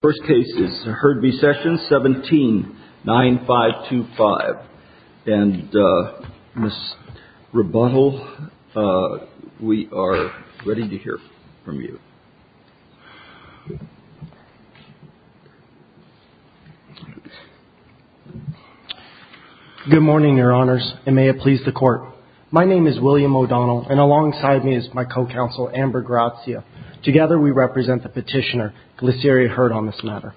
First case is Heard v. Sessions, 179525. And Ms. Rebuttal, we are ready to hear from you. Good morning, Your Honors, and may it please the Court. My name is William O'Donnell, and alongside me is my co-counsel, Amber Grazia. Together we represent the petitioner, Luceria Heard, on this matter.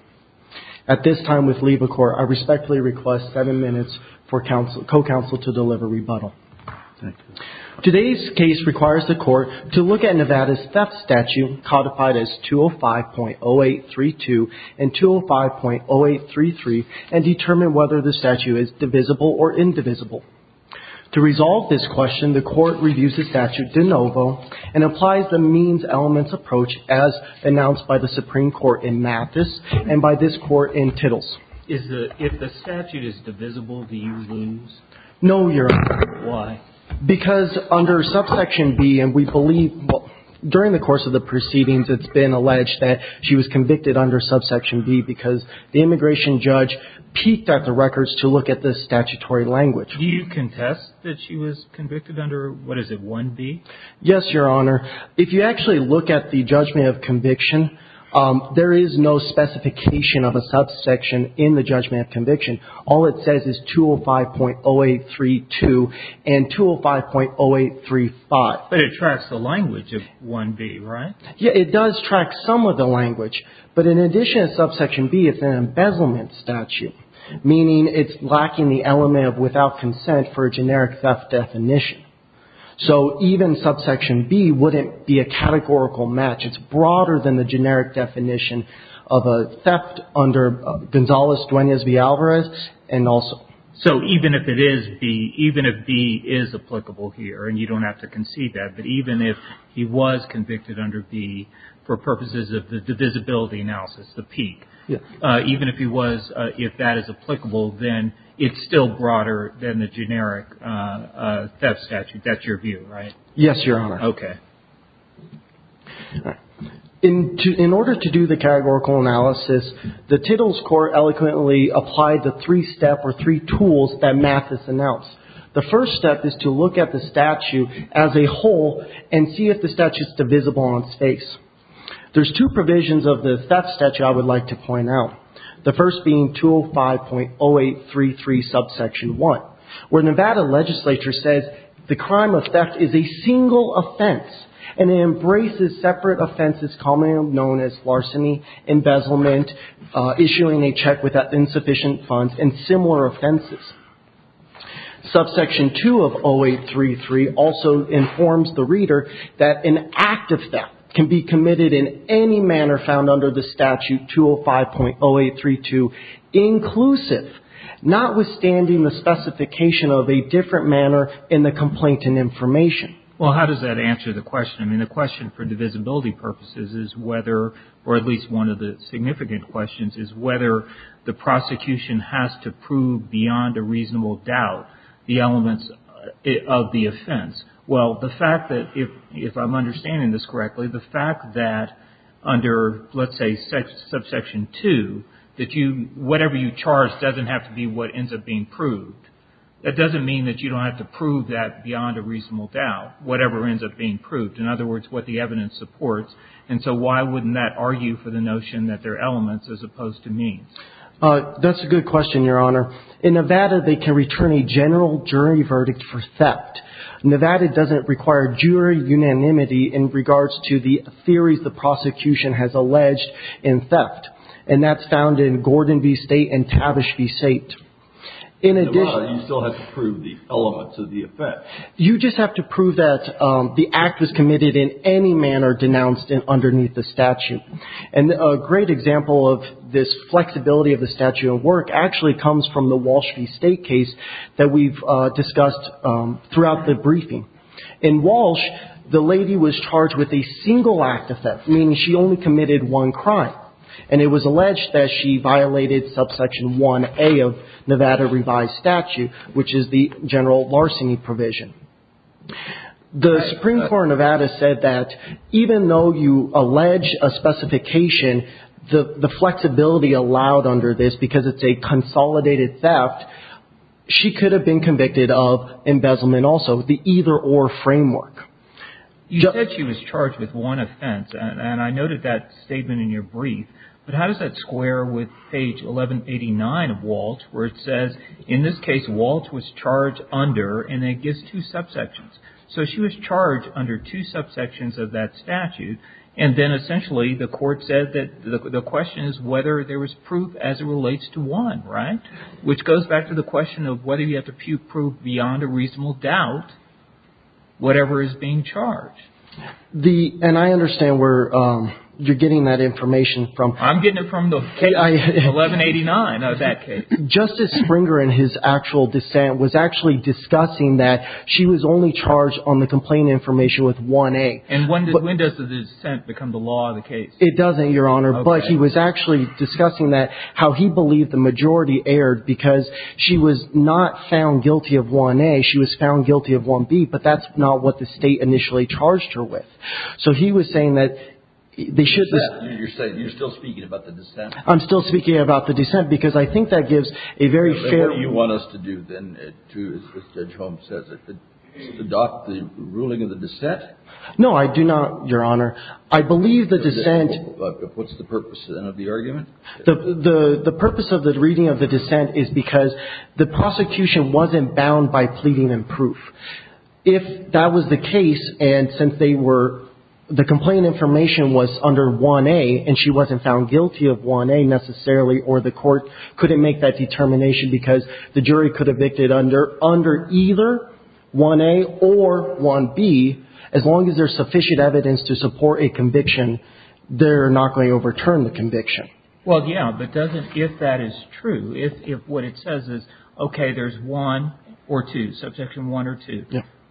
At this time, with leave of court, I respectfully request seven minutes for co-counsel to deliver Rebuttal. Today's case requires the Court to look at Nevada's theft statute, codified as 205.0832 and 205.0833, and determine whether the statute is divisible or indivisible. To resolve this question, the Court reviews the statute de quorum in Mathis and by this court in Tittles. If the statute is divisible, do you lose? No, Your Honor. Why? Because under subsection B, and we believe during the course of the proceedings, it's been alleged that she was convicted under subsection B because the immigration judge peeked at the records to look at the statutory language. Do you contest that she was convicted under, what is it, 1B? Yes, Your Honor. If you actually look at the judgment of conviction, there is no specification of a subsection in the judgment of conviction. All it says is 205.0832 and 205.0835. But it tracks the language of 1B, right? Yeah, it does track some of the language, but in addition to subsection B, it's an embezzlement statute, meaning it's lacking the element of without consent for a generic theft definition. So even subsection B wouldn't be a categorical match. It's broader than the generic definition of a theft under Gonzales-Dueñas v. Alvarez and also... So even if it is B, even if B is applicable here, and you don't have to concede that, but even if he was convicted under B for purposes of the divisibility analysis, the peek, even if he was, if that is applicable, then it's still broader than the generic theft statute. That's your view, right? Yes, Your Honor. Okay. In order to do the categorical analysis, the Tittles Court eloquently applied the three steps or three tools that Mathis announced. The first step is to look at the statute as a whole and see if the statute is divisible on its face. There's two provisions of the theft statute I would like to point out, the first being 205.0833, subsection 1, where Nevada legislature says the crime of theft is a single offense and it embraces separate offenses commonly known as larceny, embezzlement, issuing a check without insufficient funds, and similar offenses. Subsection 2 of 0833 also informs the reader that an act of theft can be committed in any manner found under the statute 205.0832 inclusive, notwithstanding the specification of a different manner in the complaint and information. Well, how does that answer the question? I mean, the question for divisibility purposes is whether, or at least one of the significant questions, is whether the prosecution has to prove beyond a reasonable doubt the elements of the offense. Well, the fact that, if I'm understanding this correctly, the fact that under, let's say, subsection 2, that you – whatever you charge doesn't have to be what ends up being proved. That doesn't mean that you don't have to prove that beyond a reasonable doubt, whatever ends up being proved. In other words, what the evidence supports. And so why wouldn't that argue for the notion that there are elements as opposed to means? That's a good question, Your Honor. In Nevada, they can return a general jury verdict for theft. Nevada doesn't require jury unanimity in regards to the theories the prosecution has alleged in theft. And that's found in Gordon v. State and Tavish v. State. In addition – In Nevada, you still have to prove the elements of the offense. You just have to prove that the act was committed in any manner denounced underneath the statute. And a great example of this flexibility of the statute of work actually comes from the briefing. In Walsh, the lady was charged with a single act of theft, meaning she only committed one crime. And it was alleged that she violated subsection 1A of Nevada revised statute, which is the general larceny provision. The Supreme Court of Nevada said that even though you allege a specification, the flexibility allowed under this, because it's a consolidated theft, she could have been convicted of embezzlement also, the either or framework. You said she was charged with one offense. And I noted that statement in your brief. But how does that square with page 1189 of Walsh where it says, in this case, Walsh was charged under, and it gives two subsections. So she was charged under two subsections of that statute. And then it goes back to the question of whether you have to prove beyond a reasonable doubt whatever is being charged. And I understand where you're getting that information from. I'm getting it from the 1189 of that case. Justice Springer, in his actual dissent, was actually discussing that she was only charged on the complaint information with 1A. And when does the dissent become the law of the case? It doesn't, Your Honor. But he was actually discussing that, how he believed the majority erred, because she was not found guilty of 1A. She was found guilty of 1B. But that's not what the State initially charged her with. So he was saying that they should be ---- You're still speaking about the dissent. I'm still speaking about the dissent, because I think that gives a very fair ---- But what do you want us to do, then, to, as Judge Holmes says, adopt the ruling of the dissent? No, I do not, Your Honor. I believe the dissent ---- What's the purpose, then, of the argument? The purpose of the reading of the dissent is because the prosecution wasn't bound by pleading and proof. If that was the case, and since they were ---- the complaint information was under 1A, and she wasn't found guilty of 1A necessarily, or the court couldn't make that determination because the jury could have made it under either 1A or 1B, as long as there's sufficient evidence to support a conviction, they're not going to overturn the conviction. Well, yeah, but doesn't ---- if that is true, if what it says is, okay, there's one or two, Subsection 1 or 2,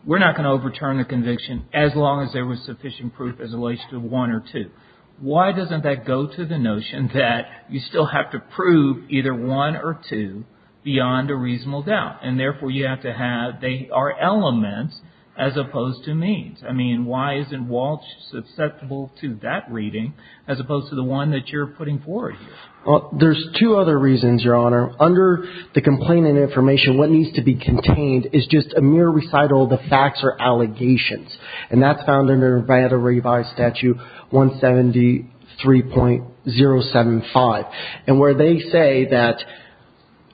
we're not going to overturn the conviction as long as there was sufficient proof as it relates to 1 or 2. Why doesn't that go to the notion that you still have to prove either 1 or 2 beyond a reasonable doubt, and therefore you have to have ---- they are elements as opposed to means. I mean, why isn't Walsh susceptible to that reading as opposed to the one that you're putting forward here? Well, there's two other reasons, Your Honor. Under the complaint information, what needs to be contained is just a mere recital of the facts or allegations, and that's found under Nevada Revised Statute 173.075, and where they say that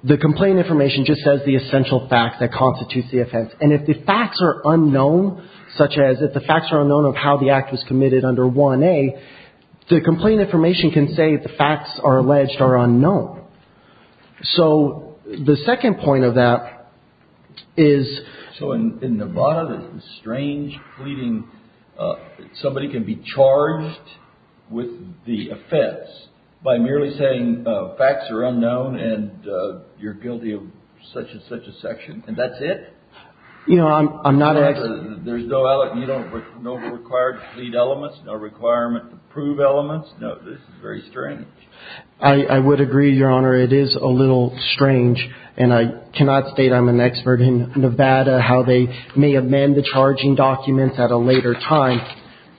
the complaint information just says the essential facts that constitute the offense. And if the facts are unknown, such as if the facts are unknown of how the act was committed under 1A, the complaint information can say the facts are alleged are unknown. So the second point of that is ---- Your Honor, this is strange pleading. Somebody can be charged with the offense by merely saying facts are unknown, and you're guilty of such and such a section, and that's it? You know, I'm not ---- There's no ---- you don't know the required plead elements, no requirement to prove elements? No, this is very strange. I would agree, Your Honor. Your Honor, it is a little strange, and I cannot state I'm an expert in Nevada, how they may amend the charging documents at a later time,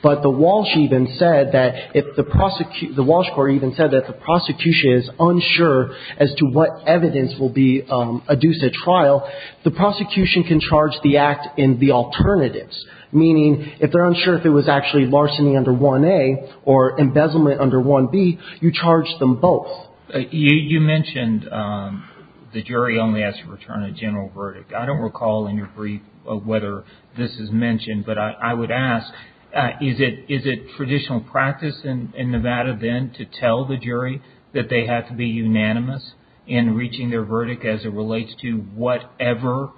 but the Walsh even said that if the ---- the Walsh court even said that the prosecution is unsure as to what evidence will be adduced at trial, the prosecution can charge the act in the alternatives, meaning if they're unsure if it was actually larceny under 1A or embezzlement under 1B, you charge them both. You mentioned the jury only has to return a general verdict. I don't recall in your brief whether this is mentioned, but I would ask is it traditional practice in Nevada then to tell the jury that they have to be unanimous in reaching their verdict as it relates to whatever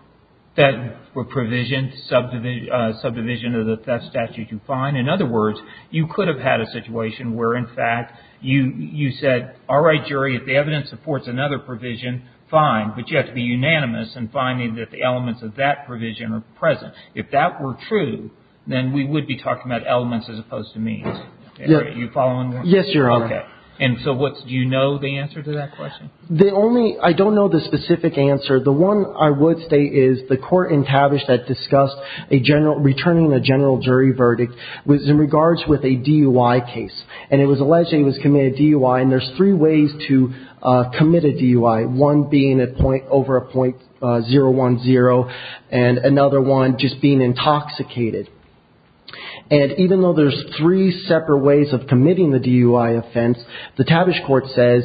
that provision, subdivision of the theft statute you find? In other words, you could have had a situation where, in fact, you said, all right, jury, if the evidence supports another provision, fine, but you have to be unanimous in finding that the elements of that provision are present. If that were true, then we would be talking about elements as opposed to means. Are you following me? Yes, Your Honor. Okay. And so do you know the answer to that question? The only ---- I don't know the specific answer. The one I would state is the court in Tavish that discussed a general ---- returning a general jury verdict was in regards with a DUI case, and it was alleged that he was committing a DUI, and there's three ways to commit a DUI, one being over a .010 and another one just being intoxicated. And even though there's three separate ways of committing the DUI offense, the Tavish court says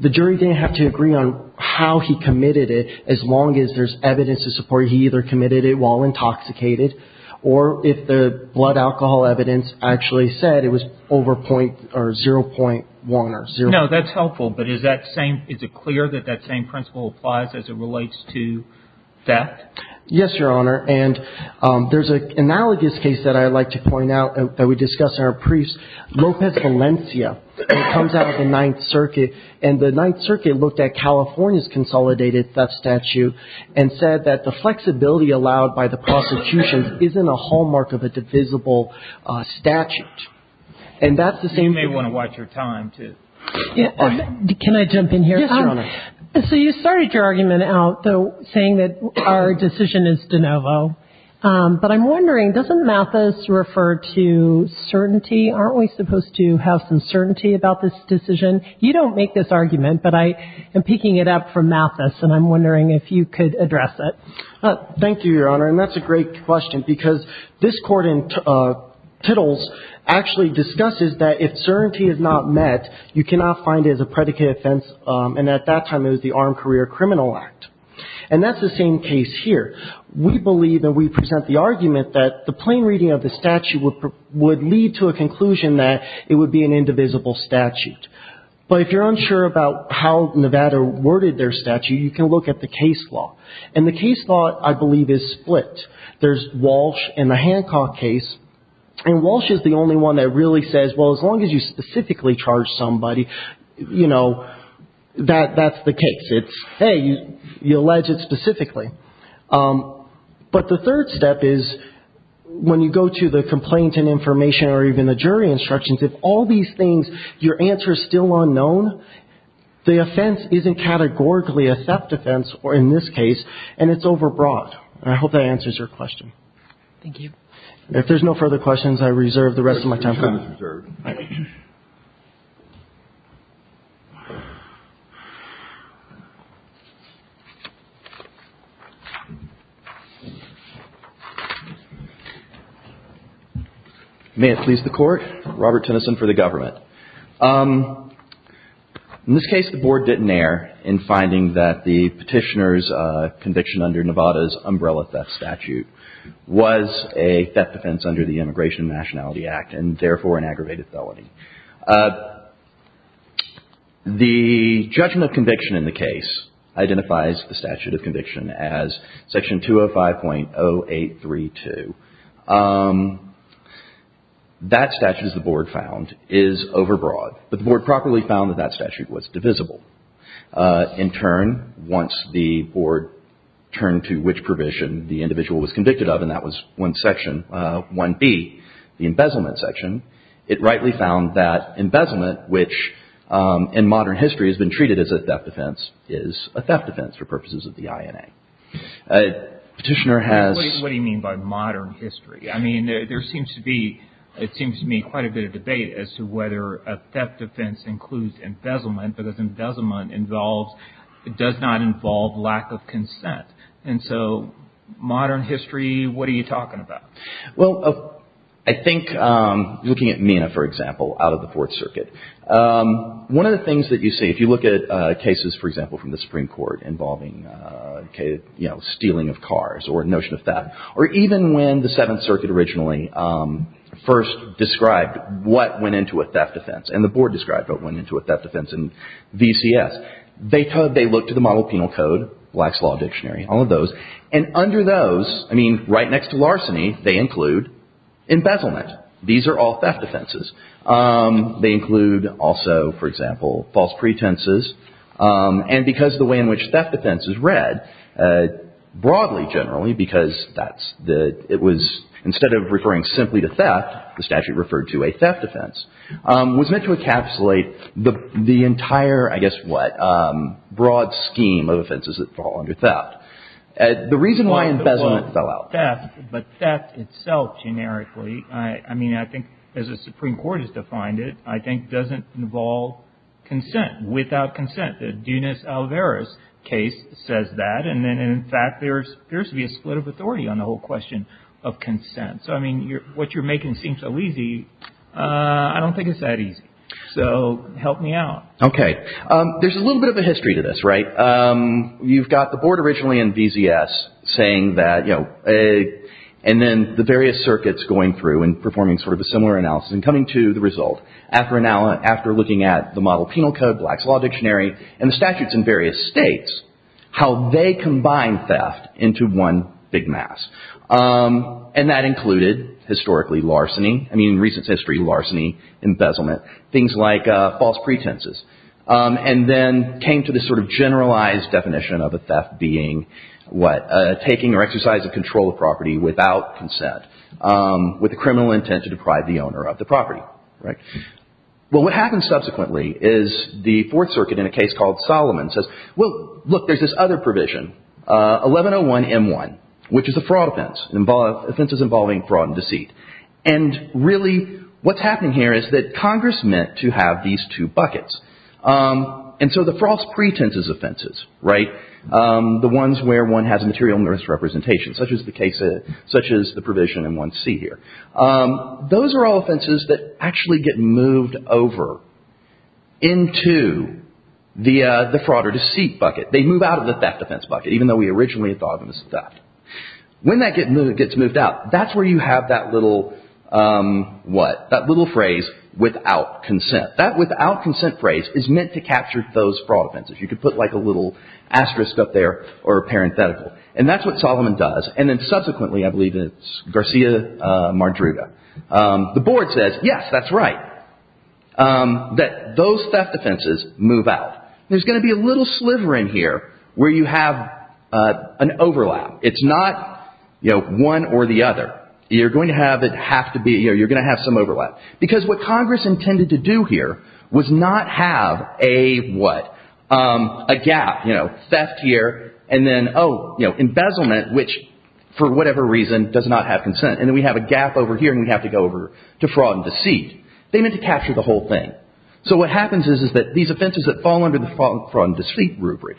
the jury didn't have to agree on how he committed it as long as there's evidence to support he either committed it while intoxicated or if the blood alcohol evidence actually said it was over .0.1 or 0. No, that's helpful, but is that same ---- is it clear that that same principle applies as it relates to theft? Yes, Your Honor. And there's an analogous case that I'd like to point out that we discussed in our briefs, and it comes out of the Ninth Circuit. And the Ninth Circuit looked at California's consolidated theft statute and said that the flexibility allowed by the prosecution isn't a hallmark of a divisible statute. And that's the same ---- You may want to watch your time, too. Can I jump in here? Yes, Your Honor. So you started your argument out, though, saying that our decision is de novo. But I'm wondering, doesn't Mathis refer to certainty? Aren't we supposed to have some certainty about this decision? You don't make this argument, but I am picking it up from Mathis, and I'm wondering if you could address it. Thank you, Your Honor. And that's a great question because this court in Tittles actually discusses that if certainty is not met, you cannot find it as a predicate offense, and at that time it was the Armed Career Criminal Act. And that's the same case here. We believe that we present the argument that the plain reading of the statute would lead to a conclusion that it would be an indivisible statute. But if you're unsure about how Nevada worded their statute, you can look at the case law. And the case law, I believe, is split. There's Walsh and the Hancock case, and Walsh is the only one that really says, well, as long as you specifically charge somebody, you know, that's the case. It's, hey, you allege it specifically. But the third step is when you go to the complaint and information or even the jury instructions, if all these things, your answer is still unknown, the offense isn't categorically a theft offense in this case, and it's overbroad. And I hope that answers your question. Thank you. If there's no further questions, I reserve the rest of my time. Your time is reserved. Thank you. May it please the Court. Robert Tennyson for the government. In this case, the Board didn't err in finding that the petitioner's conviction under Nevada's umbrella theft statute was a theft offense under the Immigration and Nationality Act and, therefore, an aggravated felony. The judgment of conviction in the case identifies the statute of conviction as Section 205.0832. That statute, as the Board found, is overbroad. But the Board properly found that that statute was divisible. In turn, once the Board turned to which provision the individual was convicted of, and that was 1B, the embezzlement section, it rightly found that embezzlement, which in modern history has been treated as a theft offense, is a theft offense for purposes of the INA. What do you mean by modern history? I mean, there seems to be quite a bit of debate as to whether a theft offense includes embezzlement because embezzlement does not involve lack of consent. And so modern history, what are you talking about? Well, I think looking at MENA, for example, out of the Fourth Circuit, one of the things that you see if you look at cases, for example, from the Supreme Court involving stealing of cars or a notion of theft, or even when the Seventh Circuit originally first described what went into a theft offense and the Board described what went into a theft offense in VCS, they look to the Model Penal Code, Black's Law Dictionary, all of those. And under those, I mean, right next to larceny, they include embezzlement. These are all theft offenses. They include also, for example, false pretenses. And because the way in which theft offense is read, broadly, generally, because it was instead of referring simply to theft, the statute referred to a theft offense, was meant to encapsulate the entire, I guess what, broad scheme of offenses that fall under theft. The reason why embezzlement fell out. But theft itself, generically, I mean, I think as the Supreme Court has defined it, I think doesn't involve consent, without consent. The Dunis-Alvarez case says that. And in fact, there appears to be a split of authority on the whole question of consent. So, I mean, what you're making seems so easy. I don't think it's that easy. So, help me out. Okay. There's a little bit of a history to this, right? You've got the Board originally in VCS saying that, you know, and then the various circuits going through and performing sort of a similar analysis and coming to the result after looking at the Model Penal Code, Black's Law Dictionary, and the statutes in various states, how they combine theft into one big mass. And that included, historically, larceny. I mean, in recent history, larceny, embezzlement, things like false pretenses. And then came to this sort of generalized definition of a theft being what? Taking or exercising control of property without consent, with the criminal intent to deprive the owner of the property, right? Well, what happens subsequently is the Fourth Circuit in a case called Solomon says, Well, look, there's this other provision, 1101M1, which is a fraud offense. Offenses involving fraud and deceit. And, really, what's happening here is that Congress meant to have these two buckets. And so the false pretenses offenses, right? The ones where one has a material misrepresentation, such as the provision in 1C here. Those are all offenses that actually get moved over into the fraud or deceit bucket. They move out of the theft defense bucket, even though we originally thought of them as theft. When that gets moved out, that's where you have that little, what? That little phrase, without consent. That without consent phrase is meant to capture those fraud offenses. You could put, like, a little asterisk up there, or a parenthetical. And that's what Solomon does. And then, subsequently, I believe it's Garcia-Mardruga. The board says, Yes, that's right. That those theft offenses move out. There's going to be a little sliver in here where you have an overlap. It's not, you know, one or the other. You're going to have it have to be, you know, you're going to have some overlap. Because what Congress intended to do here was not have a, what? A gap, you know, theft here. And then, oh, you know, embezzlement, which, for whatever reason, does not have consent. And then we have a gap over here, and we have to go over to fraud and deceit. They meant to capture the whole thing. So what happens is that these offenses that fall under the fraud and deceit rubric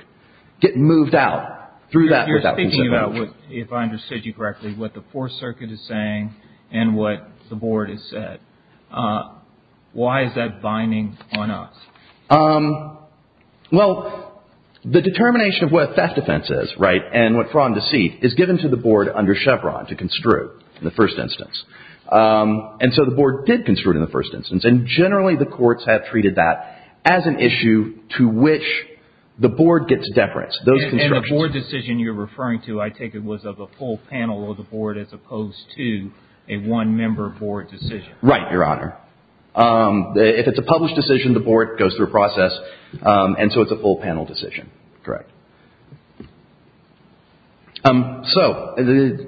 get moved out through that without consent. If I understood you correctly, what the Fourth Circuit is saying and what the board has said, why is that binding on us? Well, the determination of what a theft offense is, right, and what fraud and deceit is given to the board under Chevron to construe in the first instance. And so the board did construe it in the first instance, and generally the courts have treated that as an issue to which the board gets deference. And the board decision you're referring to, I take it, was of a full panel of the board as opposed to a one-member board decision. Right, Your Honor. If it's a published decision, the board goes through a process, and so it's a full panel decision. Correct. So,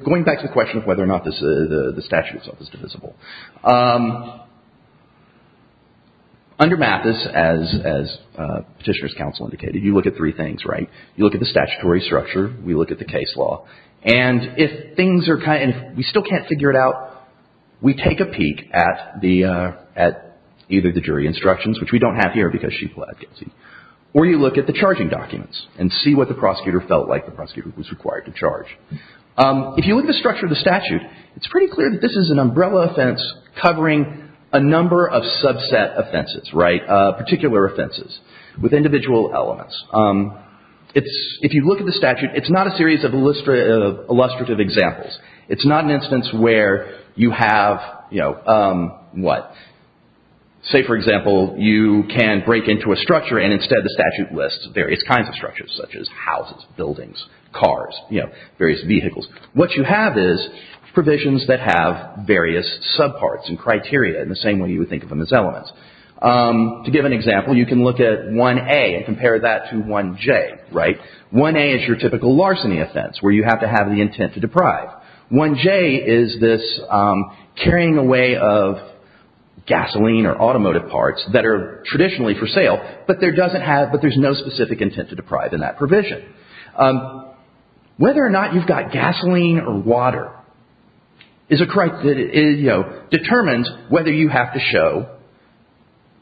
going back to the question of whether or not the statute itself is divisible. Under Mathis, as Petitioner's Counsel indicated, you look at three things, right? You look at the statutory structure. We look at the case law. And if things are kind of, we still can't figure it out, we take a peek at either the jury instructions, which we don't have here because she flat gets it, or you look at the charging documents and see what the prosecutor felt like the prosecutor was required to charge. If you look at the structure of the statute, it's pretty clear that this is an umbrella offense covering a number of subset offenses, right, particular offenses with individual elements. If you look at the statute, it's not a series of illustrative examples. It's not an instance where you have, you know, what? Say, for example, you can break into a structure, and instead the statute lists various kinds of structures such as houses, buildings, cars, you know, various vehicles. What you have is provisions that have various subparts and criteria in the same way you would think of them as elements. To give an example, you can look at 1A and compare that to 1J, right? 1A is your typical larceny offense where you have to have the intent to deprive. 1J is this carrying away of gasoline or automotive parts that are traditionally for sale, but there doesn't have, but there's no specific intent to deprive in that provision. Whether or not you've got gasoline or water is, you know, determines whether you have to show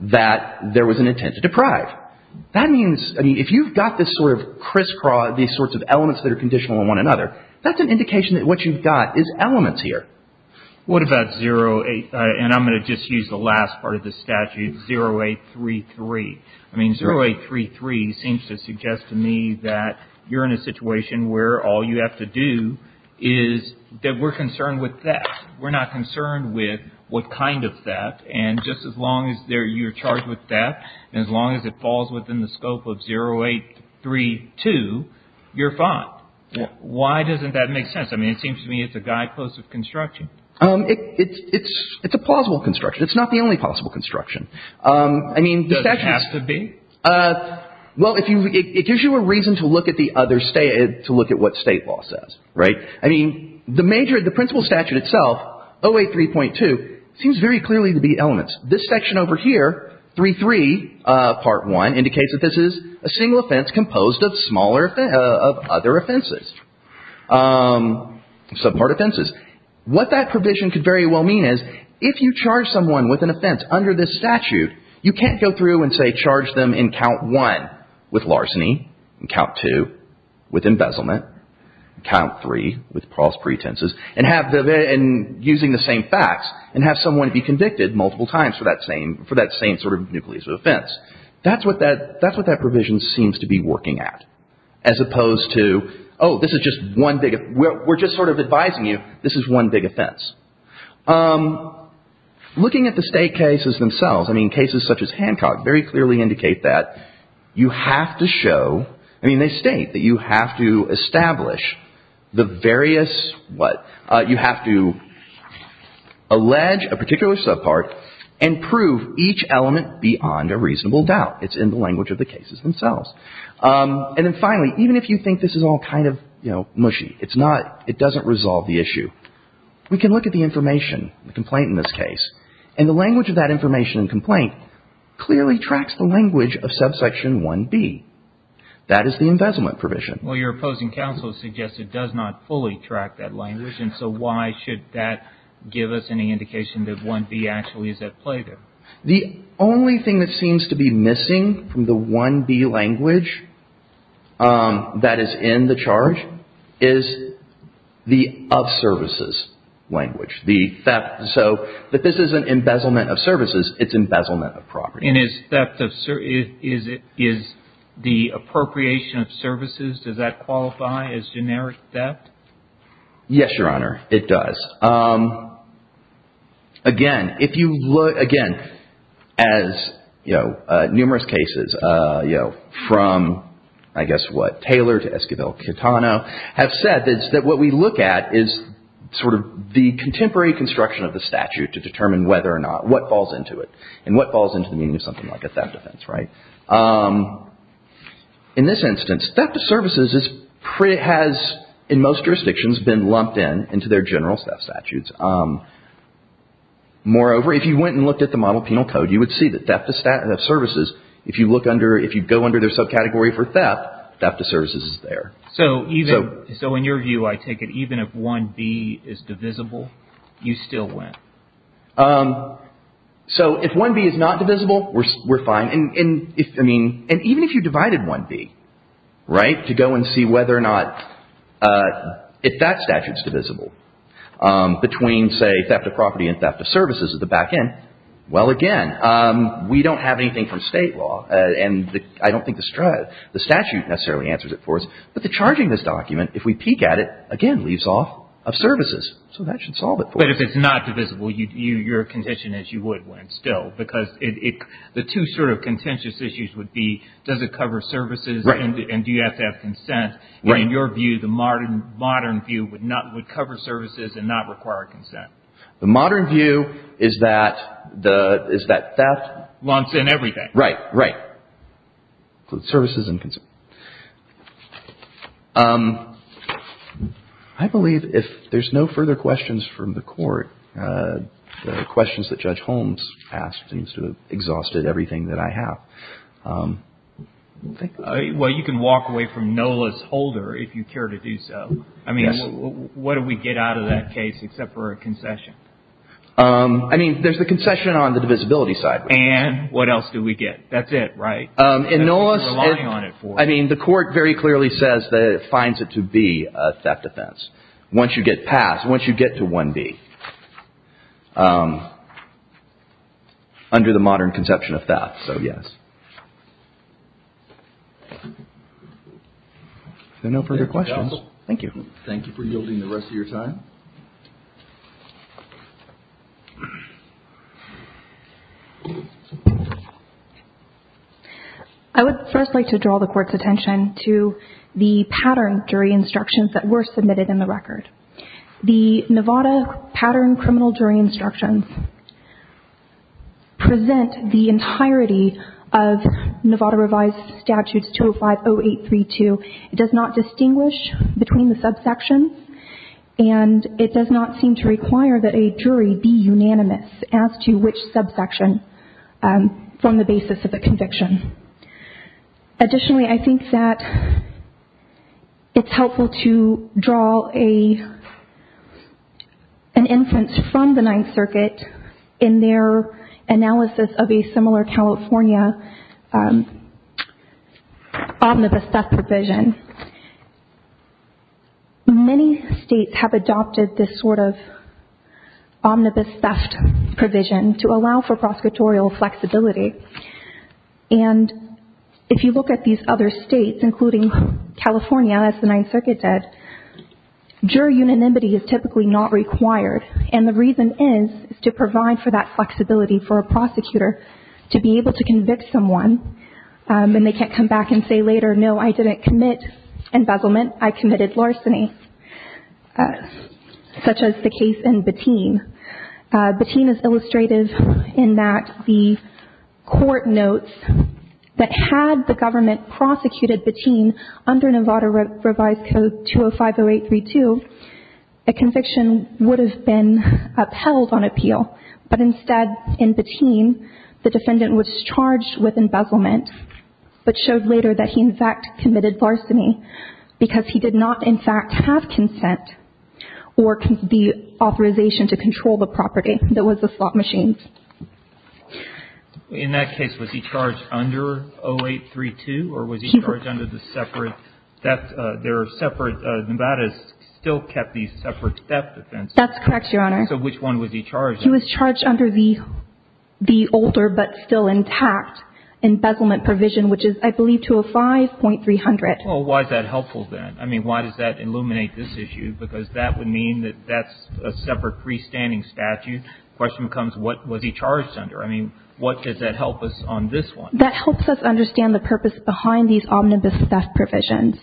that there was an intent to deprive. That means, I mean, if you've got this sort of crisscross, these sorts of elements that are conditional on one another, that's an indication that what you've got is elements here. What about 08, and I'm going to just use the last part of the statute, 0833. I mean, 0833 seems to suggest to me that you're in a situation where all you have to do is that we're concerned with theft. We're not concerned with what kind of theft, and just as long as you're charged with theft and as long as it falls within the scope of 0832, you're fine. Why doesn't that make sense? I mean, it seems to me it's a guidepost of construction. It's a plausible construction. It's not the only possible construction. Does it have to be? Well, it gives you a reason to look at what state law says, right? I mean, the principle statute itself, 083.2, seems very clearly to be elements. This section over here, 033, Part 1, indicates that this is a single offense composed of other offenses, subpart offenses. What that provision could very well mean is if you charge someone with an offense under this statute, you can't go through and, say, charge them in Count 1 with larceny, in Count 2 with embezzlement, in Count 3 with false pretenses, and using the same facts and have someone be convicted multiple times for that same sort of nucleus of offense. That's what that provision seems to be working at, as opposed to, oh, this is just one big — we're just sort of advising you this is one big offense. Looking at the state cases themselves, I mean, cases such as Hancock very clearly indicate that you have to show — I mean, they state that you have to establish the various — what? You have to allege a particular subpart and prove each element beyond a reasonable doubt. It's in the language of the cases themselves. And then finally, even if you think this is all kind of, you know, mushy, it's not — it doesn't resolve the issue. We can look at the information, the complaint in this case, and the language of that information and complaint clearly tracks the language of subsection 1B. That is the embezzlement provision. Well, your opposing counsel suggests it does not fully track that language, and so why should that give us any indication that 1B actually is at play there? The only thing that seems to be missing from the 1B language that is in the charge is the of services language. So that this is an embezzlement of services, it's embezzlement of property. And is theft of — is the appropriation of services, does that qualify as generic theft? Yes, Your Honor, it does. Again, if you look — again, as, you know, numerous cases, you know, from, I guess what, Taylor to Esquivel-Quintano, have said that what we look at is sort of the contemporary construction of the statute to determine whether or not — what falls into it and what falls into the meaning of something like a theft offense, right? In this instance, theft of services has, in most jurisdictions, been lumped in into their general theft statutes. Moreover, if you went and looked at the model penal code, you would see that theft of services, if you look under — if you go under their subcategory for theft, theft of services is there. So even — so in your view, I take it even if 1B is divisible, you still win? So if 1B is not divisible, we're fine. And if — I mean, and even if you divided 1B, right, to go and see whether or not — if that statute's divisible between, say, theft of property and theft of services at the back end, well, again, we don't have anything from State law. And I don't think the statute necessarily answers it for us. But the charging of this document, if we peek at it, again, leaves off of services. So that should solve it for us. But if it's not divisible, you're contention is you would win still. Because the two sort of contentious issues would be, does it cover services and do you have to have consent? And in your view, the modern view would cover services and not require consent. The modern view is that theft — Lumps in everything. Right, right. Includes services and consent. I believe if there's no further questions from the court, the questions that Judge Holmes asked seems to have exhausted everything that I have. Well, you can walk away from NOLA's holder if you care to do so. I mean, what do we get out of that case except for a concession? I mean, there's the concession on the divisibility side. And what else do we get? That's it, right? And NOLA's — You're relying on it. I mean, the court very clearly says that it finds it to be a theft offense. Once you get passed, once you get to 1B, under the modern conception of theft. So, yes. There are no further questions. Thank you. Thank you for yielding the rest of your time. I would first like to draw the court's attention to the pattern jury instructions that were submitted in the record. The Nevada pattern criminal jury instructions present the entirety of Nevada revised statutes 205-0832. It does not distinguish between the subsections. And it does not seem to require that a jury be unanimous as to which subsection from the basis of the conviction. Additionally, I think that it's helpful to draw an instance from the Ninth Circuit in their analysis of a similar California omnibus theft provision. Many states have adopted this sort of omnibus theft provision to allow for prosecutorial flexibility. And if you look at these other states, including California, as the Ninth Circuit did, jury unanimity is typically not required. And the reason is to provide for that flexibility for a prosecutor to be able to convict someone. And they can't come back and say later, no, I didn't commit embezzlement, I committed larceny, such as the case in Bettine. Bettine is illustrative in that the court notes that had the government prosecuted Bettine under Nevada revised code 205-0832, a conviction would have been upheld on appeal. But instead, in Bettine, the defendant was charged with embezzlement, but showed later that he, in fact, committed larceny because he did not, in fact, have consent or the authorization to control the property that was the slot machines. In that case, was he charged under 0832, or was he charged under the separate theft? There are separate, Nevada's still kept these separate theft offenses. That's correct, Your Honor. So which one was he charged under? He was charged under the older but still intact embezzlement provision, which is, I believe, to a 5.300. Well, why is that helpful then? I mean, why does that illuminate this issue? Because that would mean that that's a separate freestanding statute. The question becomes, what was he charged under? I mean, what does that help us on this one? That helps us understand the purpose behind these omnibus theft provisions.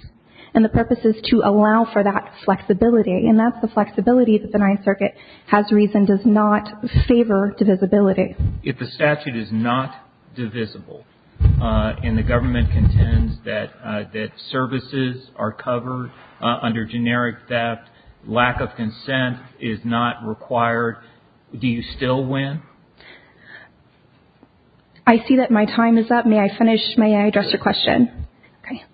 And the purpose is to allow for that flexibility. And that's the flexibility that the Ninth Circuit has reason does not favor divisibility. If the statute is not divisible, and the government contends that services are covered under generic theft, lack of consent is not required, do you still win? I see that my time is up. May I finish? May I address your question? Okay.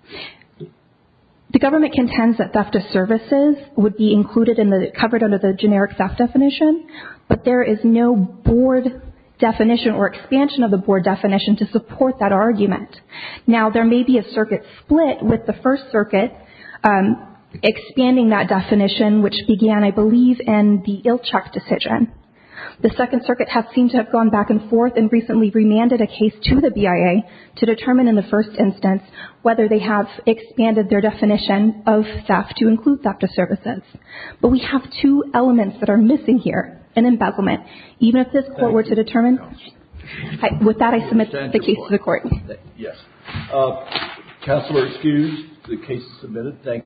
The government contends that theft of services would be included in the, covered under the generic theft definition, but there is no board definition or expansion of the board definition to support that argument. Now, there may be a circuit split with the First Circuit expanding that definition, which began, I believe, in the Ilchuk decision. The Second Circuit has seemed to have gone back and forth and recently remanded a case to the BIA to determine in the first instance whether they have expanded their definition of theft to include theft of services. But we have two elements that are missing here, an embezzlement. Even if this court were to determine... Yes. Counselor, excused. The case is submitted.